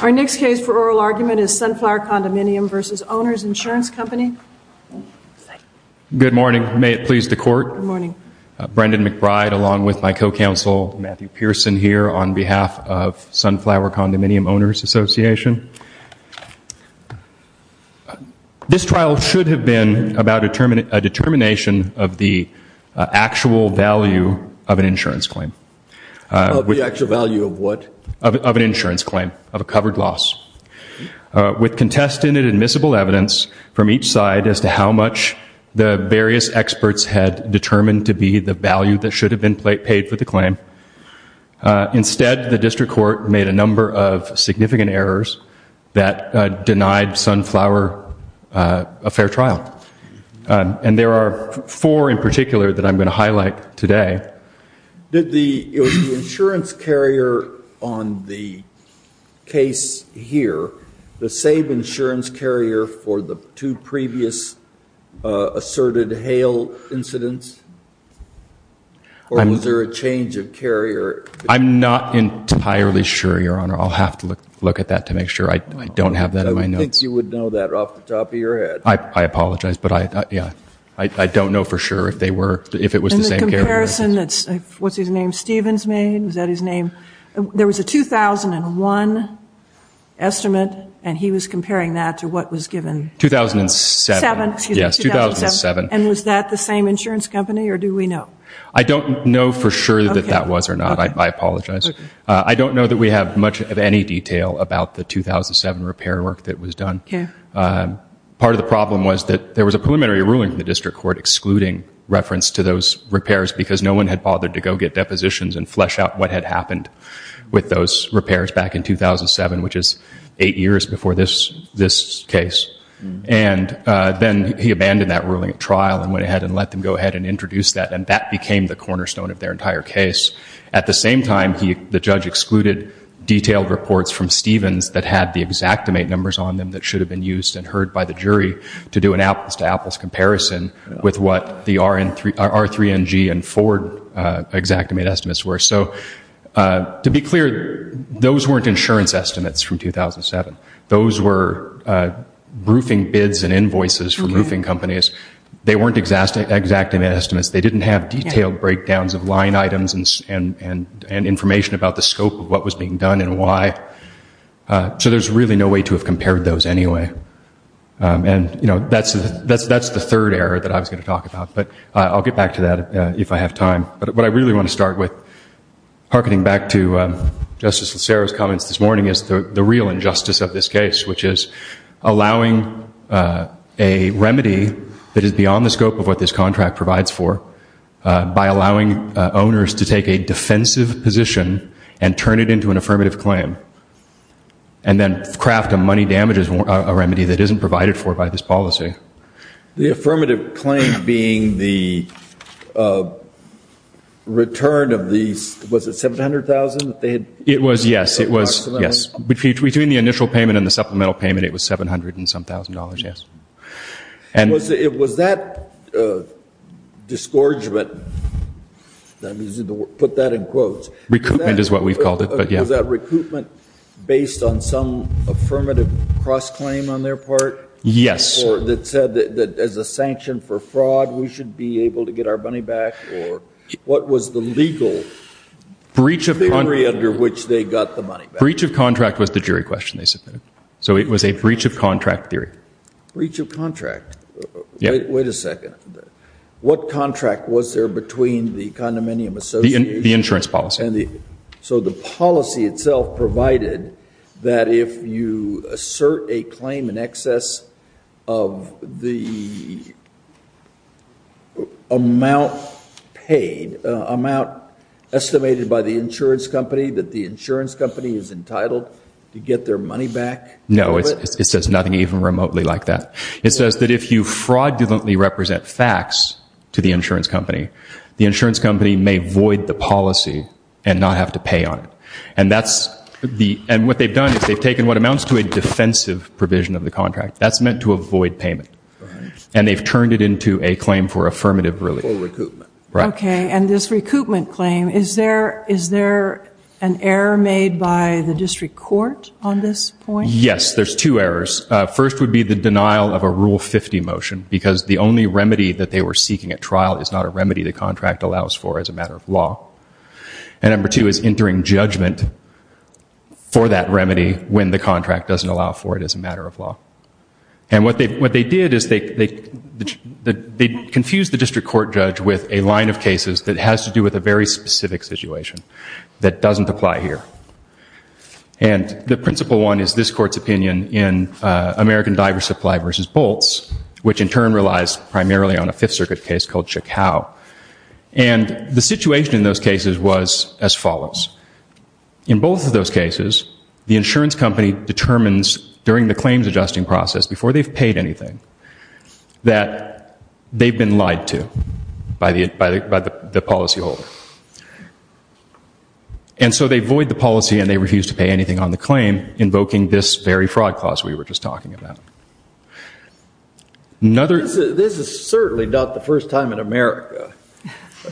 Our next case for oral argument is Sunflower Condominium v. Owners Insurance Company. Good morning, may it please the Court. Good morning. Brendan McBride along with my co-counsel Matthew Pearson here on behalf of Sunflower Condominium Owners Association. This trial should have been about a determination of the actual value of an insurance claim. The actual value of what? Of an insurance claim, of a covered loss. With contested and admissible evidence from each side as to how much the various experts had determined to be the value that should have been paid for the claim, instead the district court made a number of significant errors that denied Sunflower a fair trial. And there are four in particular that I'm going to highlight today. Did the insurance carrier on the case here, the same insurance carrier for the two previous asserted Hale incidents, or was there a change of carrier? I'm not entirely sure, Your Honor. I'll have to look at that to make sure. I don't have that in my notes. Who thinks you would know that off the top of your head? I apologize, but I don't know for sure if it was the same carrier. There was a comparison, what's his name, Stevens made, was that his name? There was a 2001 estimate, and he was comparing that to what was given 2007. And was that the same insurance company, or do we know? I don't know for sure that that was or not, I apologize. I don't know that we have much of any detail about the 2007 repair work that was done. Part of the problem was that there was a preliminary ruling in the district court excluding reference to those repairs because no one had bothered to go get depositions and flesh out what had happened with those repairs back in 2007, which is eight years before this case. And then he abandoned that ruling at trial and went ahead and let them go ahead and introduce that, and that became the cornerstone of their entire case. At the same time, the judge excluded detailed reports from Stevens that had the exactimate numbers on them that should have been used and heard by the jury to do an apples-to-apples comparison with what the R3NG and Ford exactimate estimates were. So to be clear, those weren't insurance estimates from 2007. Those were roofing bids and invoices from roofing companies. They weren't exactimate estimates. They didn't have detailed breakdowns of line items and information about the scope of what was being done and why. So there's really no way to have compared those anyway. And that's the third error that I was going to talk about, but I'll get back to that if I have time. But what I really want to start with, hearkening back to Justice Locero's comments this morning, is the real injustice of this case, which is allowing a remedy that is beyond the scope of what this contract provides for by allowing owners to take a defensive position and turn it into an affirmative claim and then craft a money damages remedy that isn't provided for by this policy. The affirmative claim being the return of these, was it $700,000 that they had paid? It was, yes. It was, yes. Between the initial payment and the supplemental payment, it was $700-and-some-thousand, yes. Was that disgorgement, to put that in quotes- Was that recoupment based on some affirmative cross-claim on their part? Yes. Or that said that as a sanction for fraud, we should be able to get our money back? What was the legal theory under which they got the money back? Breach of contract was the jury question they submitted. So it was a breach of contract theory. Breach of contract. Wait a second. What contract was there between the condominium association- The insurance policy. So the policy itself provided that if you assert a claim in excess of the amount paid, amount estimated by the insurance company, that the insurance company is entitled to get their money back? No. It says nothing even remotely like that. It says that if you fraudulently represent facts to the insurance company, the insurance company may void the policy and not have to pay on it. And that's the- And what they've done is they've taken what amounts to a defensive provision of the contract. That's meant to avoid payment. And they've turned it into a claim for affirmative relief. For recoupment. Right. Okay. And this recoupment claim, is there an error made by the district court on this point? Yes. There's two errors. First would be the denial of a Rule 50 motion, because the only remedy that they were seeking at trial is not a remedy the contract allows for as a matter of law. And number two is entering judgment for that remedy when the contract doesn't allow for it as a matter of law. And what they did is they confused the district court judge with a line of cases that has to do with a very specific situation that doesn't apply here. And the principal one is this court's opinion in American Diver Supply v. Bolts, which in a Fifth Circuit case called Chacao. And the situation in those cases was as follows. In both of those cases, the insurance company determines during the claims adjusting process, before they've paid anything, that they've been lied to by the policyholder. And so they void the policy and they refuse to pay anything on the claim, invoking this very fraud clause we were just talking about. This is certainly not the first time in America,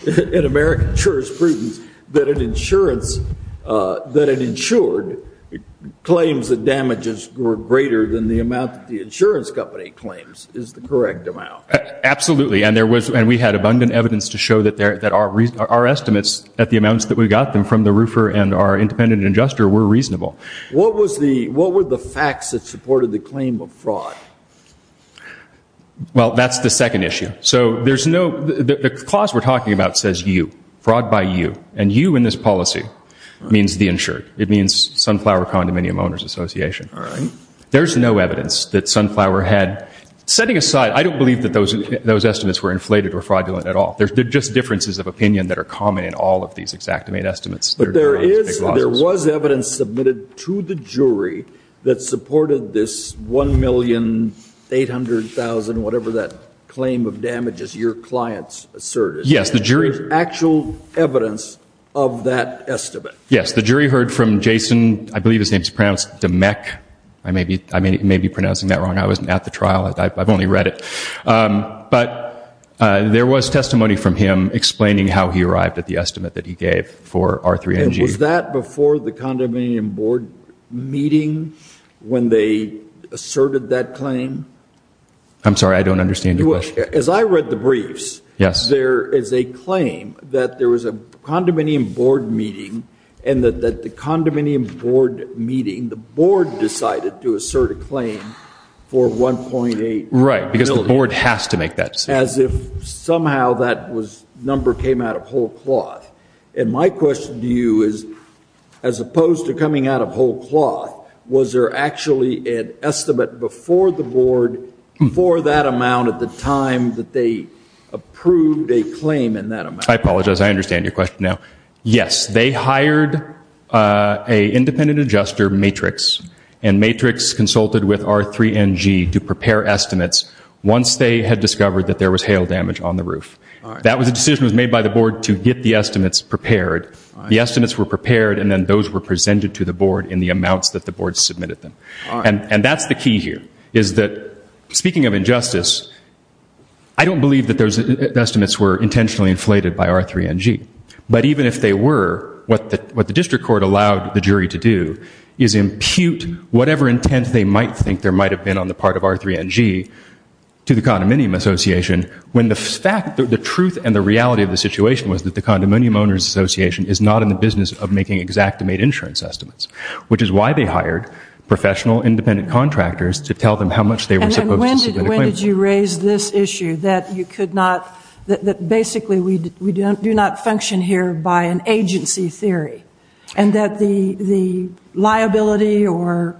in American jurisprudence, that an insurance that had insured claims that damages were greater than the amount that the insurance company claims is the correct amount. Absolutely. And we had abundant evidence to show that our estimates at the amounts that we got them from the roofer and our independent adjuster were reasonable. What were the facts that supported the claim of fraud? Well, that's the second issue. So there's no, the clause we're talking about says you, fraud by you. And you in this policy means the insured. It means Sunflower Condominium Owners Association. There's no evidence that Sunflower had, setting aside, I don't believe that those estimates were inflated or fraudulent at all. They're just differences of opinion that are common in all of these exactimate estimates. But there is, there was evidence submitted to the jury that supported this 1,800,000, whatever that claim of damages your clients asserted. Yes, the jury. There's actual evidence of that estimate. Yes, the jury heard from Jason, I believe his name is pronounced Demek, I may be pronouncing that wrong. I wasn't at the trial. I've only read it. But there was testimony from him explaining how he arrived at the estimate that he gave for R3NG. And was that before the condominium board meeting when they asserted that claim? I'm sorry, I don't understand your question. As I read the briefs, there is a claim that there was a condominium board meeting and that the condominium board meeting, the board decided to assert a claim for 1.8 million. Right, because the board has to make that statement. As if somehow that number came out of whole cloth. And my question to you is, as opposed to coming out of whole cloth, was there actually an estimate before the board for that amount at the time that they approved a claim in that amount? I apologize. I understand your question now. Yes, they hired an independent adjuster, Matrix, and Matrix consulted with R3NG to prepare estimates once they had discovered that there was hail damage on the roof. That was a decision that was made by the board to get the estimates prepared. The estimates were prepared and then those were presented to the board in the amounts that the board submitted them. And that's the key here, is that, speaking of injustice, I don't believe that those estimates were intentionally inflated by R3NG. But even if they were, what the district court allowed the jury to do is impute whatever intent they might think there might have been on the part of R3NG to the condominium association when the fact, the truth and the reality of the situation was that the condominium owners association is not in the business of making exact and made insurance estimates. Which is why they hired professional independent contractors to tell them how much they were supposed to submit a claim for. And when did you raise this issue that you could not, that basically we do not function here by an agency theory? And that the liability or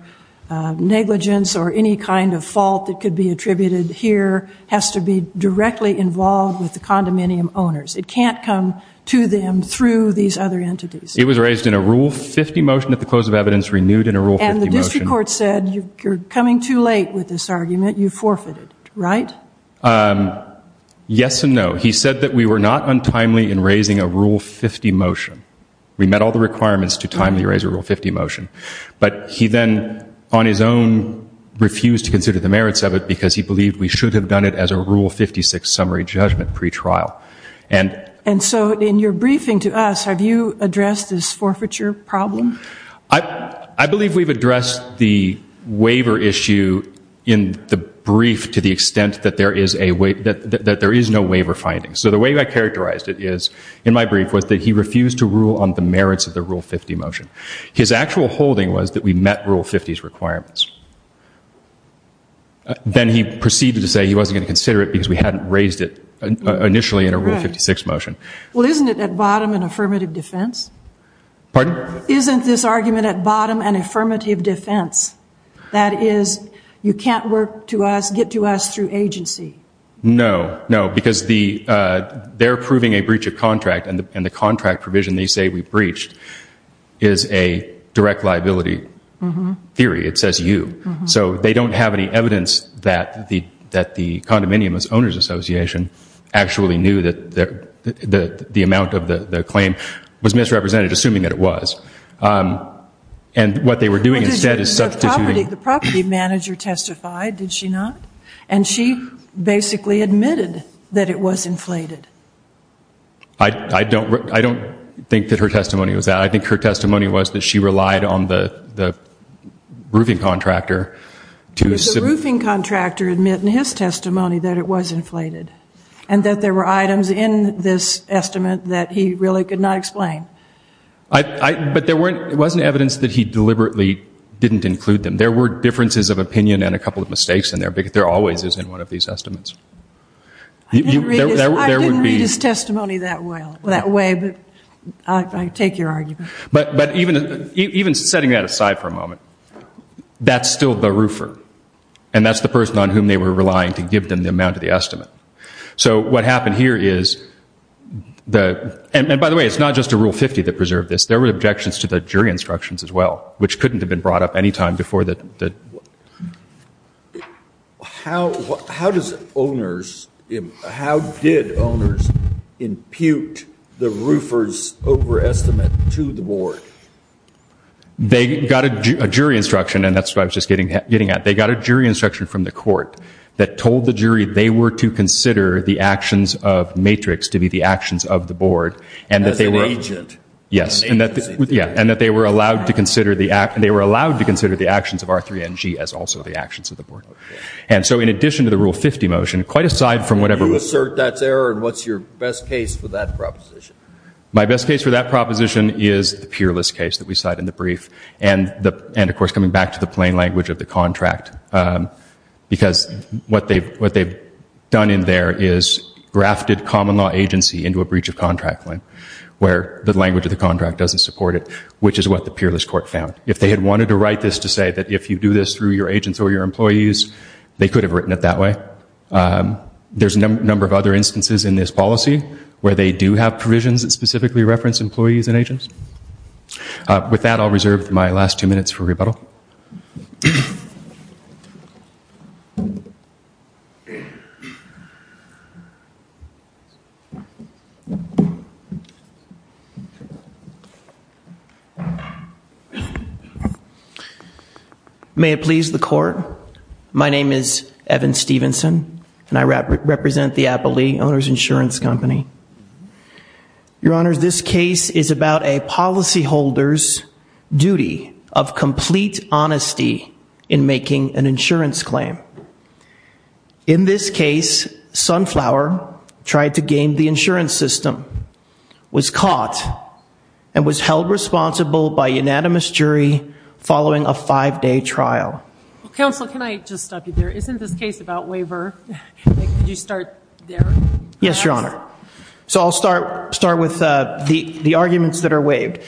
negligence or any kind of fault that could be attributed here has to be directly involved with the condominium owners. It can't come to them through these other entities. It was raised in a Rule 50 motion at the close of evidence, renewed in a Rule 50 motion. And the district court said, you're coming too late with this argument. You forfeited, right? Yes and no. He said that we were not untimely in raising a Rule 50 motion. We met all the requirements to timely raise a Rule 50 motion. But he then, on his own, refused to consider the merits of it because he believed we should have done it as a Rule 56 summary judgment pretrial. And so in your briefing to us, have you addressed this forfeiture problem? I believe we've addressed the waiver issue in the brief to the extent that there is no waiver findings. So the way I characterized it is, in my brief, was that he refused to rule on the merits of the Rule 50 motion. His actual holding was that we met Rule 50's requirements. Then he proceeded to say he wasn't going to consider it because we hadn't raised it initially in a Rule 56 motion. Right. Well, isn't it at bottom an affirmative defense? Pardon? Isn't this argument at bottom an affirmative defense? That is, you can't work to us, get to us through agency. No. No. Because they're approving a breach of contract and the contract provision they say we breached is a direct liability theory. It says you. So they don't have any evidence that the Condominium Owners Association actually knew that the amount of the claim was misrepresented, assuming that it was. And what they were doing instead is substituting. The property manager testified, did she not? And she basically admitted that it was inflated. I don't think that her testimony was that. I think her testimony was that she relied on the roofing contractor to. Did the roofing contractor admit in his testimony that it was inflated? And that there were items in this estimate that he really could not explain? But there weren't, it wasn't evidence that he deliberately didn't include them. There were differences of opinion and a couple of mistakes in there. There always is in one of these estimates. I didn't read his testimony that way, but I take your argument. But even setting that aside for a moment, that's still the roofer. And that's the person on whom they were relying to give them the amount of the estimate. So what happened here is, and by the way, it's not just a Rule 50 that preserved this. There were objections to the jury instructions as well, which couldn't have been brought up any time before the. But how does owners, how did owners impute the roofer's overestimate to the board? They got a jury instruction, and that's what I was just getting at. They got a jury instruction from the court that told the jury they were to consider the actions of Matrix to be the actions of the board. And that they were. As an agent. Yes. And that they were allowed to consider the actions of R3NG as also the actions of the board. And so in addition to the Rule 50 motion, quite aside from whatever. You assert that's error, and what's your best case for that proposition? My best case for that proposition is the peerless case that we cite in the brief. And of course, coming back to the plain language of the contract, because what they've done in there is grafted common law agency into a breach of contract claim, where the language of the contract doesn't support it, which is what the peerless court found. If they had wanted to write this to say that if you do this through your agents or your employees, they could have written it that way. There's a number of other instances in this policy where they do have provisions that specifically reference employees and agents. With that, I'll reserve my last two minutes for rebuttal. May it please the court. My name is Evan Stevenson, and I represent the Applee Owners Insurance Company. Your Honor, this case is about a policyholder's duty of complete honesty in making an insurance claim. In this case, Sunflower tried to game the insurance system, was caught, and was held responsible by a unanimous jury following a five-day trial. Counsel, can I just stop you there? Isn't this case about waiver? Could you start there? Yes, Your Honor. So I'll start with the arguments that are waived.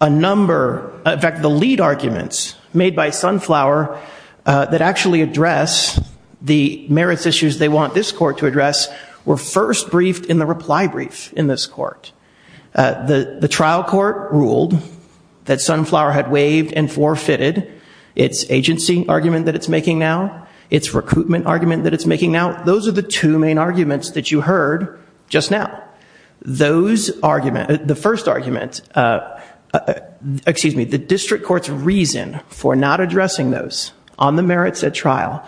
A number, in fact, the lead arguments made by Sunflower that actually address the merits issues they want this court to address were first briefed in the reply brief in this court. The trial court ruled that Sunflower had waived and forfeited its agency argument that it's making now, its recruitment argument that it's making now. Those are the two main arguments that you heard just now. The first argument, excuse me, the district court's reason for not addressing those on the merits at trial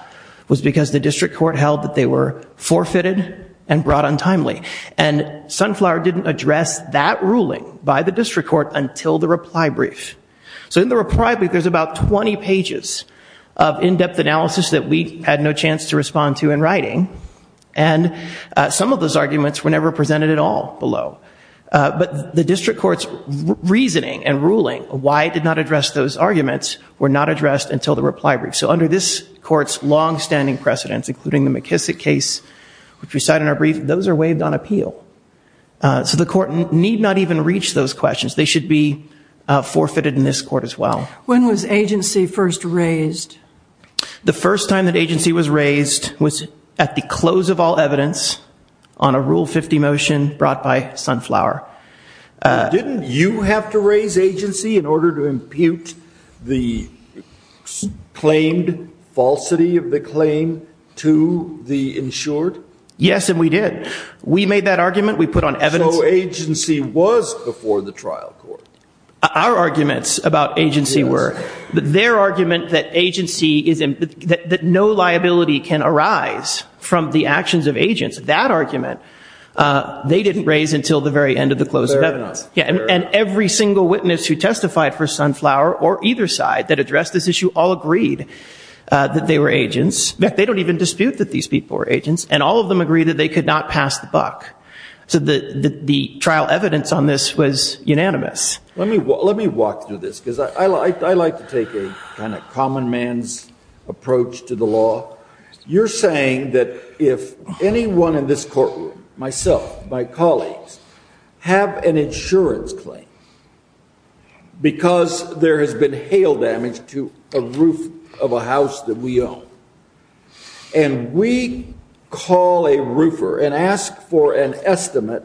was because the district court held that they were forfeited and brought untimely. And Sunflower didn't address that ruling by the district court until the reply brief. So in the reply brief, there's about 20 pages of in-depth analysis that we had no chance to respond to in writing. And some of those arguments were never presented at all below. But the district court's reasoning and ruling why it did not address those arguments were not addressed until the reply brief. So under this court's longstanding precedents, including the McKissick case, which we cite in our brief, those are waived on appeal. So the court need not even reach those questions. They should be forfeited in this court as well. When was agency first raised? The first time that agency was raised was at the close of all evidence on a Rule 50 motion brought by Sunflower. Didn't you have to raise agency in order to impute the claimed falsity of the claim to the insured? Yes, and we did. We made that argument. We put on evidence. So agency was before the trial court? Our arguments about agency were. Their argument that no liability can arise from the actions of agents, that argument, they didn't raise until the very end of the close of evidence. And every single witness who testified for Sunflower or either side that addressed this issue all agreed that they were agents. They don't even dispute that these people were agents. And all of them agreed that they could not pass the buck. So the trial evidence on this was unanimous. Let me walk through this because I like to take a kind of common man's approach to the law. You're saying that if anyone in this courtroom, myself, my colleagues, have an insurance claim because there has been hail damage to a roof of a house that we own, and we call a roofer and ask for an estimate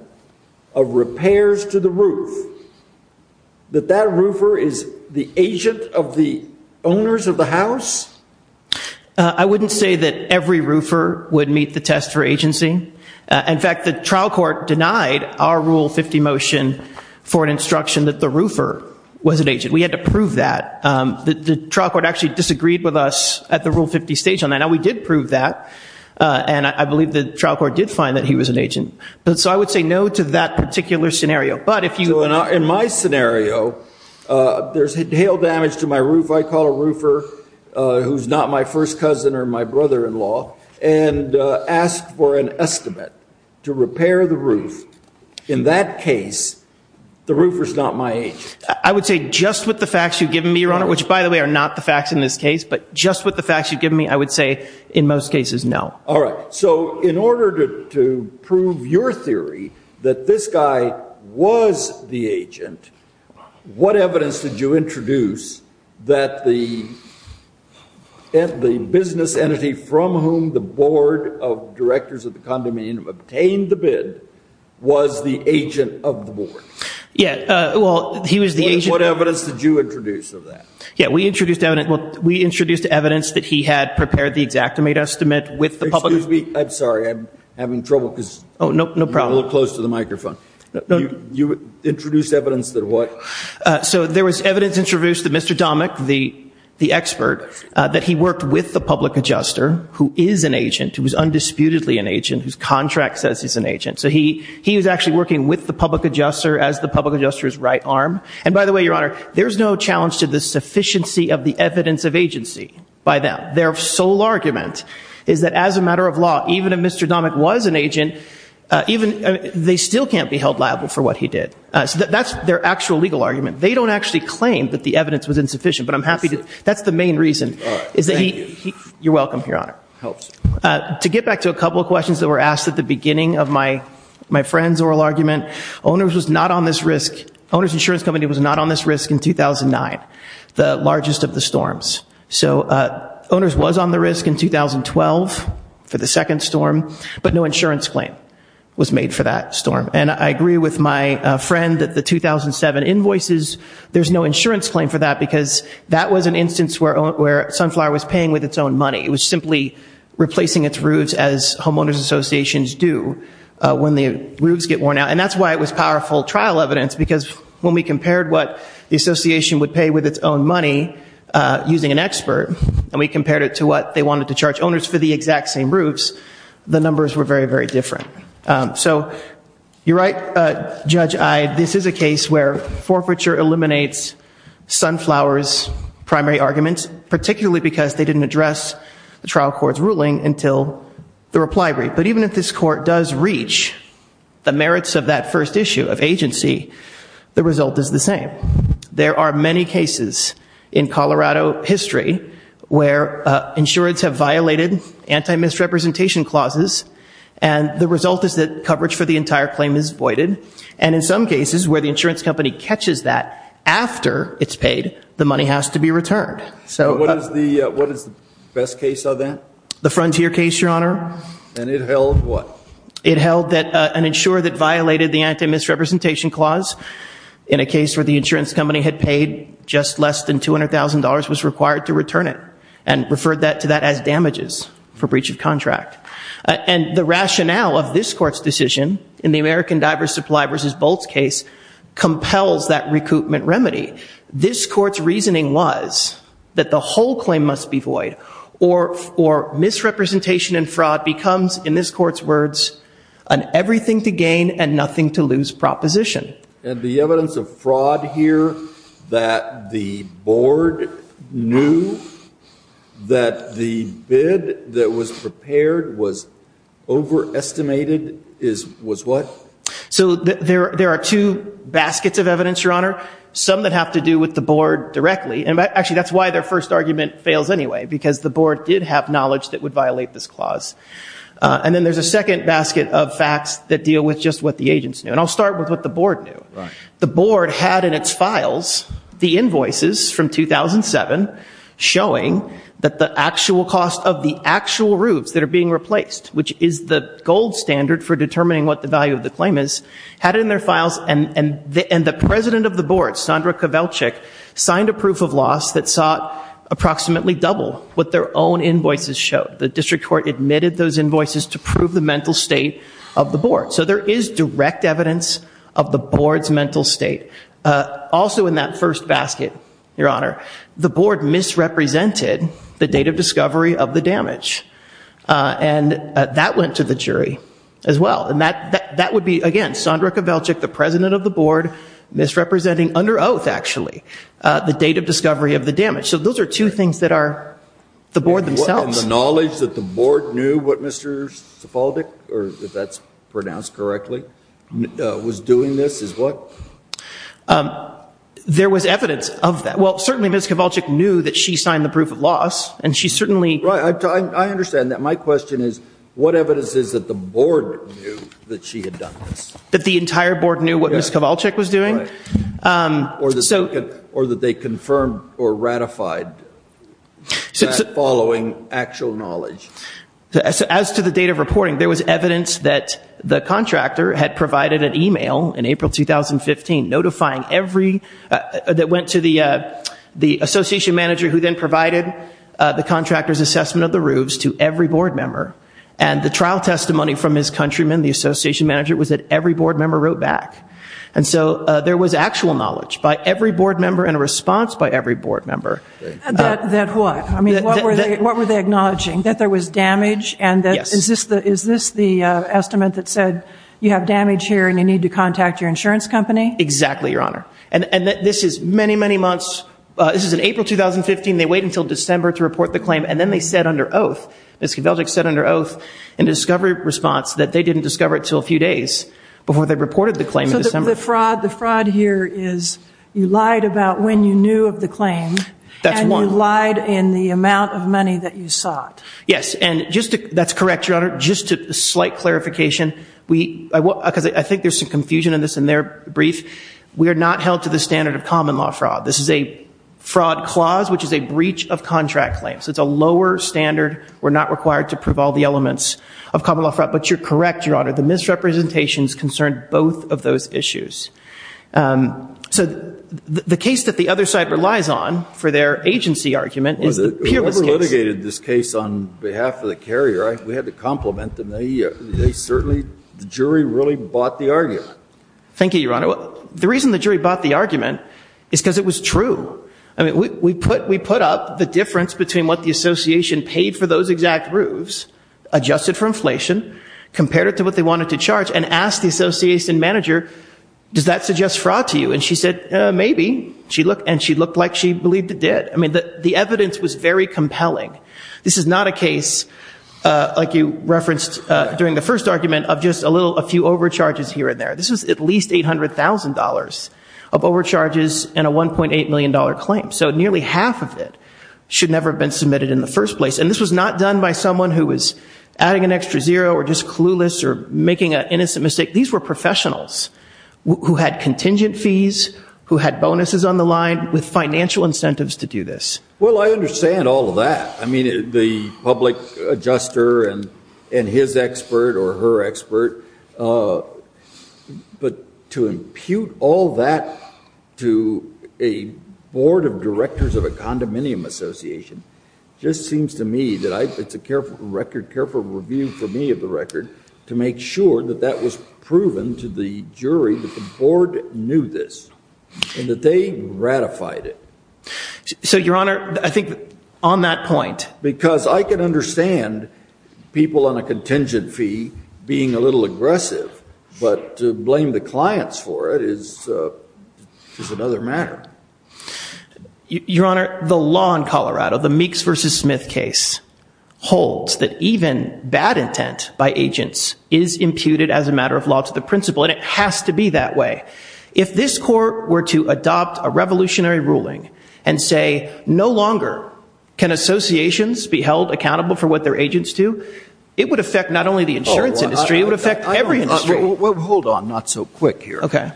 of repairs to the roof, that that roofer is the agent of the owners of the house? I wouldn't say that every roofer would meet the test for agency. In fact, the trial court denied our Rule 50 motion for an instruction that the roofer was an agent. We had to prove that. The trial court actually disagreed with us at the Rule 50 stage on that. Now, we did prove that. And I believe the trial court did find that he was an agent. So I would say no to that particular scenario. But if you- So in my scenario, there's hail damage to my roof, I call a roofer who's not my first cousin or my brother-in-law, and ask for an estimate to repair the roof. In that case, the roofer's not my agent. I would say just with the facts you've given me, Your Honor, which, by the way, are not the facts in this case, but just with the facts you've given me, I would say in most cases, no. All right. So in order to prove your theory that this guy was the agent, what evidence did you introduce that the business entity from whom the board of directors of the condominium obtained the bid was the agent of the board? Yeah. Well, he was the agent- What evidence did you introduce of that? Yeah. Well, we introduced evidence that he had prepared the Xactimate estimate with the public- Excuse me. I'm sorry. I'm having trouble because- Oh, no problem. You're a little close to the microphone. No. You introduced evidence that what? So there was evidence introduced that Mr. Domic, the expert, that he worked with the public adjuster, who is an agent, who is undisputedly an agent, whose contract says he's an agent. So he was actually working with the public adjuster as the public adjuster's right arm. And by the way, Your Honor, there's no challenge to the sufficiency of the evidence of agency by them. Their sole argument is that as a matter of law, even if Mr. Domic was an agent, they still can't be held liable for what he did. That's their actual legal argument. They don't actually claim that the evidence was insufficient, but I'm happy to... That's the main reason. All right. Thank you. You're welcome, Your Honor. It helps. To get back to a couple of questions that were asked at the beginning of my friend's oral argument, owners was not on this risk. Owners Insurance Company was not on this risk in 2009, the largest of the storms. So owners was on the risk in 2012 for the second storm, but no insurance claim was made for that storm. And I agree with my friend that the 2007 invoices, there's no insurance claim for that because that was an instance where Sunflower was paying with its own money. It was simply replacing its roofs as homeowners associations do when the roofs get worn out. And that's why it was powerful trial evidence, because when we compared what the association would pay with its own money using an expert, and we compared it to what they wanted to charge owners for the exact same roofs, the numbers were very, very different. So you're right, Judge Eyde. This is a case where forfeiture eliminates Sunflower's primary arguments, particularly because they didn't address the trial court's ruling until the reply brief. But even if this court does reach the merits of that first issue of agency, the result is the same. There are many cases in Colorado history where insurance have violated anti-misrepresentation clauses, and the result is that coverage for the entire claim is voided. And in some cases where the insurance company catches that after it's paid, the money has to be returned. So what is the best case of that? The Frontier case, Your Honor. And it held what? It held that an insurer that violated the anti-misrepresentation clause in a case where the insurance company had paid just less than $200,000 was required to return it, and referred that to that as damages for breach of contract. And the rationale of this court's decision in the American Diver's Supply v. Bolts case compels that recoupment remedy. This court's reasoning was that the whole claim must be void, or misrepresentation and fraud becomes, in this court's words, an everything to gain and nothing to lose proposition. And the evidence of fraud here that the board knew that the bid that was prepared was overestimated is what? Some that have to do with the board directly, and actually that's why their first argument fails anyway, because the board did have knowledge that would violate this clause. And then there's a second basket of facts that deal with just what the agents knew. And I'll start with what the board knew. The board had in its files the invoices from 2007 showing that the actual cost of the actual roofs that are being replaced, which is the gold standard for determining what the value of the claim is, had it in their files. And the president of the board, Sandra Kowalczyk, signed a proof of loss that saw approximately double what their own invoices showed. The district court admitted those invoices to prove the mental state of the board. So there is direct evidence of the board's mental state. Also in that first basket, your honor, the board misrepresented the date of discovery of the damage. And that went to the jury as well. And that would be, again, Sandra Kowalczyk, the president of the board, misrepresenting, under oath actually, the date of discovery of the damage. So those are two things that are the board themselves. And the knowledge that the board knew what Mr. Sepulvek, if that's pronounced correctly, was doing this is what? There was evidence of that. Well, certainly Ms. Kowalczyk knew that she signed the proof of loss, and she certainly Right. I understand that. My question is, what evidence is that the board knew that she had done this? That the entire board knew what Ms. Kowalczyk was doing? Or that they confirmed or ratified that following actual knowledge? As to the date of reporting, there was evidence that the contractor had provided an email in April 2015, notifying every, that went to the association manager who then provided the contractor's assessment of the roofs to every board member. And the trial testimony from Ms. Countryman, the association manager, was that every board member wrote back. And so there was actual knowledge by every board member and a response by every board member. That what? I mean, what were they acknowledging? That there was damage? Yes. And is this the estimate that said you have damage here and you need to contact your insurance company? Exactly, Your Honor. And this is many, many months, this is in April 2015, they wait until December to report the claim. And then they said under oath, Ms. Kowalczyk said under oath, in a discovery response, that they didn't discover it until a few days before they reported the claim in December. The fraud here is, you lied about when you knew of the claim, and you lied in the amount of money that you sought. Yes. And just to, that's correct, Your Honor. Just a slight clarification, because I think there's some confusion in this in their brief. We are not held to the standard of common law fraud. This is a fraud clause, which is a breach of contract claims. It's a lower standard. We're not required to prove all the elements of common law fraud. But you're correct, Your Honor, the misrepresentations concerned both of those issues. So the case that the other side relies on for their agency argument is the peerless case. Whoever litigated this case on behalf of the carrier, we had to compliment them. They certainly, the jury really bought the argument. Thank you, Your Honor. The reason the jury bought the argument is because it was true. We put up the difference between what the association paid for those exact roofs, adjusted for inflation, compared it to what they wanted to charge, and asked the association manager, does that suggest fraud to you? And she said, maybe. And she looked like she believed it did. The evidence was very compelling. This is not a case, like you referenced during the first argument, of just a few overcharges here and there. This was at least $800,000 of overcharges and a $1.8 million claim. So nearly half of it should never have been submitted in the first place. And this was not done by someone who was adding an extra zero or just clueless or making an innocent mistake. These were professionals who had contingent fees, who had bonuses on the line, with financial incentives to do this. Well, I understand all of that. I mean, the public adjuster and his expert or her expert. But to impute all that to a board of directors of a condominium association just seems to me that it's a careful record, careful review for me of the record, to make sure that that was proven to the jury that the board knew this and that they ratified it. So, Your Honor, I think on that point. Because I can understand people on a contingent fee being a little aggressive. But to blame the clients for it is another matter. Your Honor, the law in Colorado, the Meeks v. Smith case, holds that even bad intent by agents is imputed as a matter of law to the principal, and it has to be that way. If this court were to adopt a revolutionary ruling and say, no longer can associations be held accountable for what their agents do, it would affect not only the insurance industry, it would affect every industry. Hold on. Not so quick here. Okay.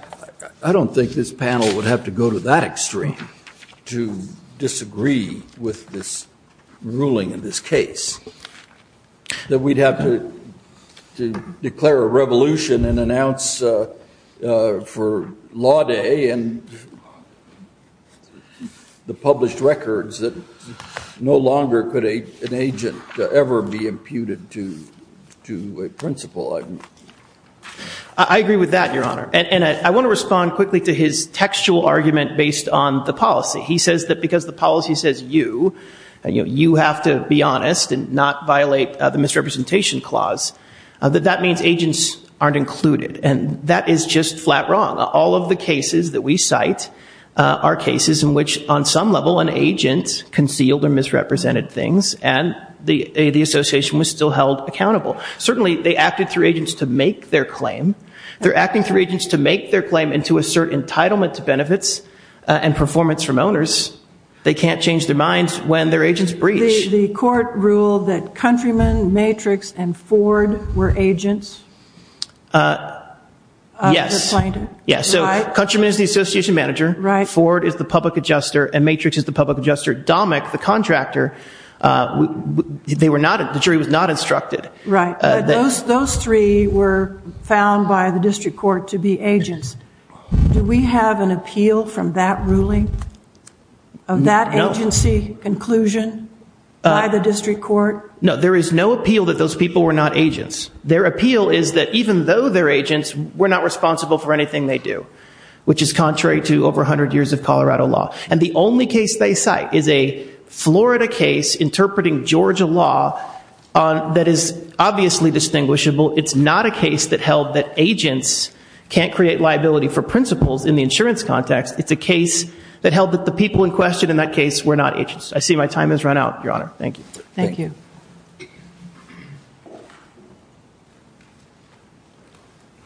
I don't think this panel would have to go to that extreme to disagree with this ruling in this case, that we'd have to declare a revolution and announce for law day and the published records that no longer could an agent ever be imputed to a principal. I agree with that, Your Honor. And I want to respond quickly to his textual argument based on the policy. He says that because the policy says you, you have to be honest and not violate the misrepresentation clause, that that means agents aren't included. And that is just flat wrong. All of the cases that we cite are cases in which on some level an agent concealed or misrepresented things, and the association was still held accountable. Certainly they acted through agents to make their claim. They're acting through agents to make their claim and to assert entitlement to benefits and performance from owners. They can't change their minds when their agents breach. The court ruled that Countryman, Matrix, and Ford were agents of the plaintiff, right? Yes. So Countryman is the association manager, Ford is the public adjuster, and Matrix is the public adjuster. Domic, the contractor, they were not, the jury was not instructed. Right. But those three were found by the district court to be agents. Do we have an appeal from that ruling of that agency conclusion by the district court? No, there is no appeal that those people were not agents. Their appeal is that even though they're agents, we're not responsible for anything they do, which is contrary to over a hundred years of Colorado law. And the only case they cite is a Florida case interpreting Georgia law that is obviously distinguishable. It's not a case that held that agents can't create liability for principals in the insurance context. It's a case that held that the people in question in that case were not agents. I see my time has run out, Your Honor. Thank you. Thank you.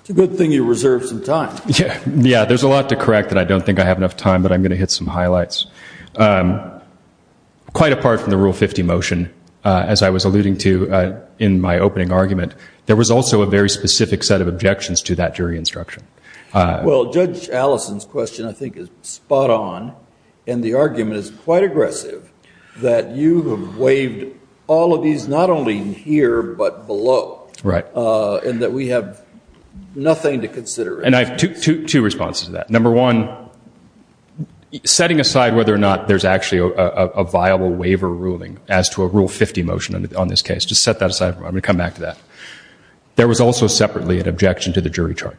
It's a good thing you reserved some time. Yeah, there's a lot to correct that I don't think I have enough time, but I'm going to hit some highlights. Quite apart from the Rule 50 motion, as I was alluding to in my opening argument, there was also a very specific set of objections to that jury instruction. Well, Judge Allison's question I think is spot on, and the argument is quite aggressive that you have waived all of these, not only here, but below, and that we have nothing to consider. And I have two responses to that. Number one, setting aside whether or not there's actually a viable waiver ruling as to a Rule 50 motion on this case. Just set that aside. I'm going to come back to that. There was also separately an objection to the jury charge.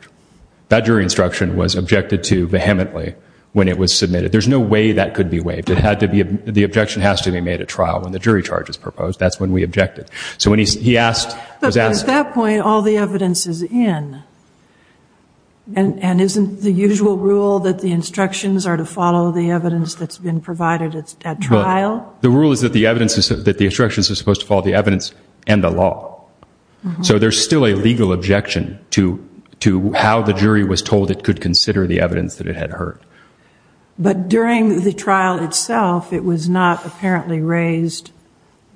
That jury instruction was objected to vehemently when it was submitted. There's no way that could be waived. The objection has to be made at trial when the jury charge is proposed. That's when we objected. But at that point, all the evidence is in, and isn't the usual rule that the instructions are to follow the evidence that's been provided at trial? The rule is that the instructions are supposed to follow the evidence and the law. So there's still a legal objection to how the jury was told it could consider the evidence that it had heard. But during the trial itself, it was not apparently raised,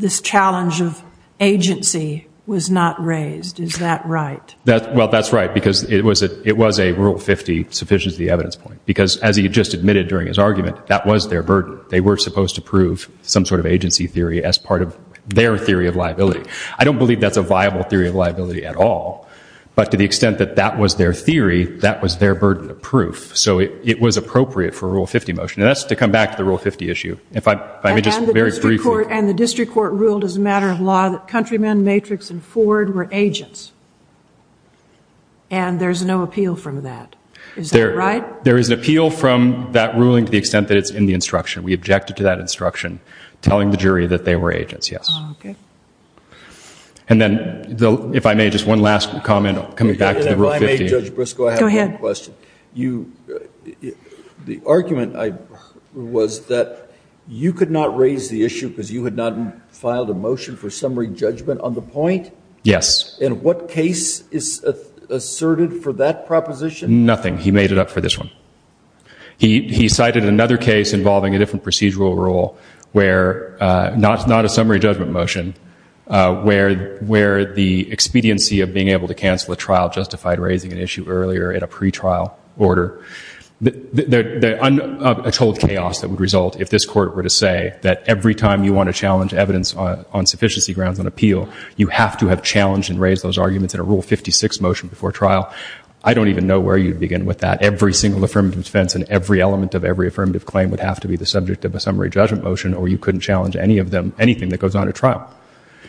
this challenge of agency was not raised. Is that right? Well, that's right, because it was a Rule 50, sufficient as the evidence point. Because as he just admitted during his argument, that was their burden. They were supposed to prove some sort of agency theory as part of their theory of liability. I don't believe that's a viable theory of liability at all. But to the extent that that was their theory, that was their burden of proof. So it was appropriate for a Rule 50 motion. And that's to come back to the Rule 50 issue. If I may just very briefly. And the district court ruled as a matter of law that Countryman, Matrix, and Ford were agents. And there's no appeal from that. Is that right? There is an appeal from that ruling to the extent that it's in the instruction. We objected to that instruction, telling the jury that they were agents, yes. And then, if I may, just one last comment coming back to the Rule 50. If I may, Judge Briscoe, I have one question. The argument was that you could not raise the issue because you had not filed a motion for summary judgment on the point? Yes. And what case is asserted for that proposition? Nothing. He made it up for this one. He cited another case involving a different procedural rule where, not a summary judgment motion, where the expediency of being able to cancel a trial justified raising an issue earlier in a pretrial order, a total chaos that would result if this court were to say that every time you want to challenge evidence on sufficiency grounds on appeal, you have to have challenged and raised those arguments in a Rule 56 motion before trial. I don't even know where you'd begin with that. Every single affirmative defense and every element of every affirmative claim would have to be the subject of a summary judgment motion, or you couldn't challenge any of them, anything that goes on at trial.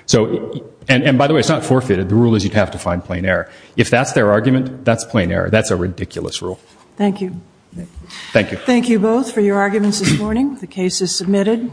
So, and by the way, it's not forfeited. The rule is you'd have to find plain error. If that's their argument, that's plain error. That's a ridiculous rule. Thank you. Thank you. Thank you both for your arguments this morning. The case is submitted.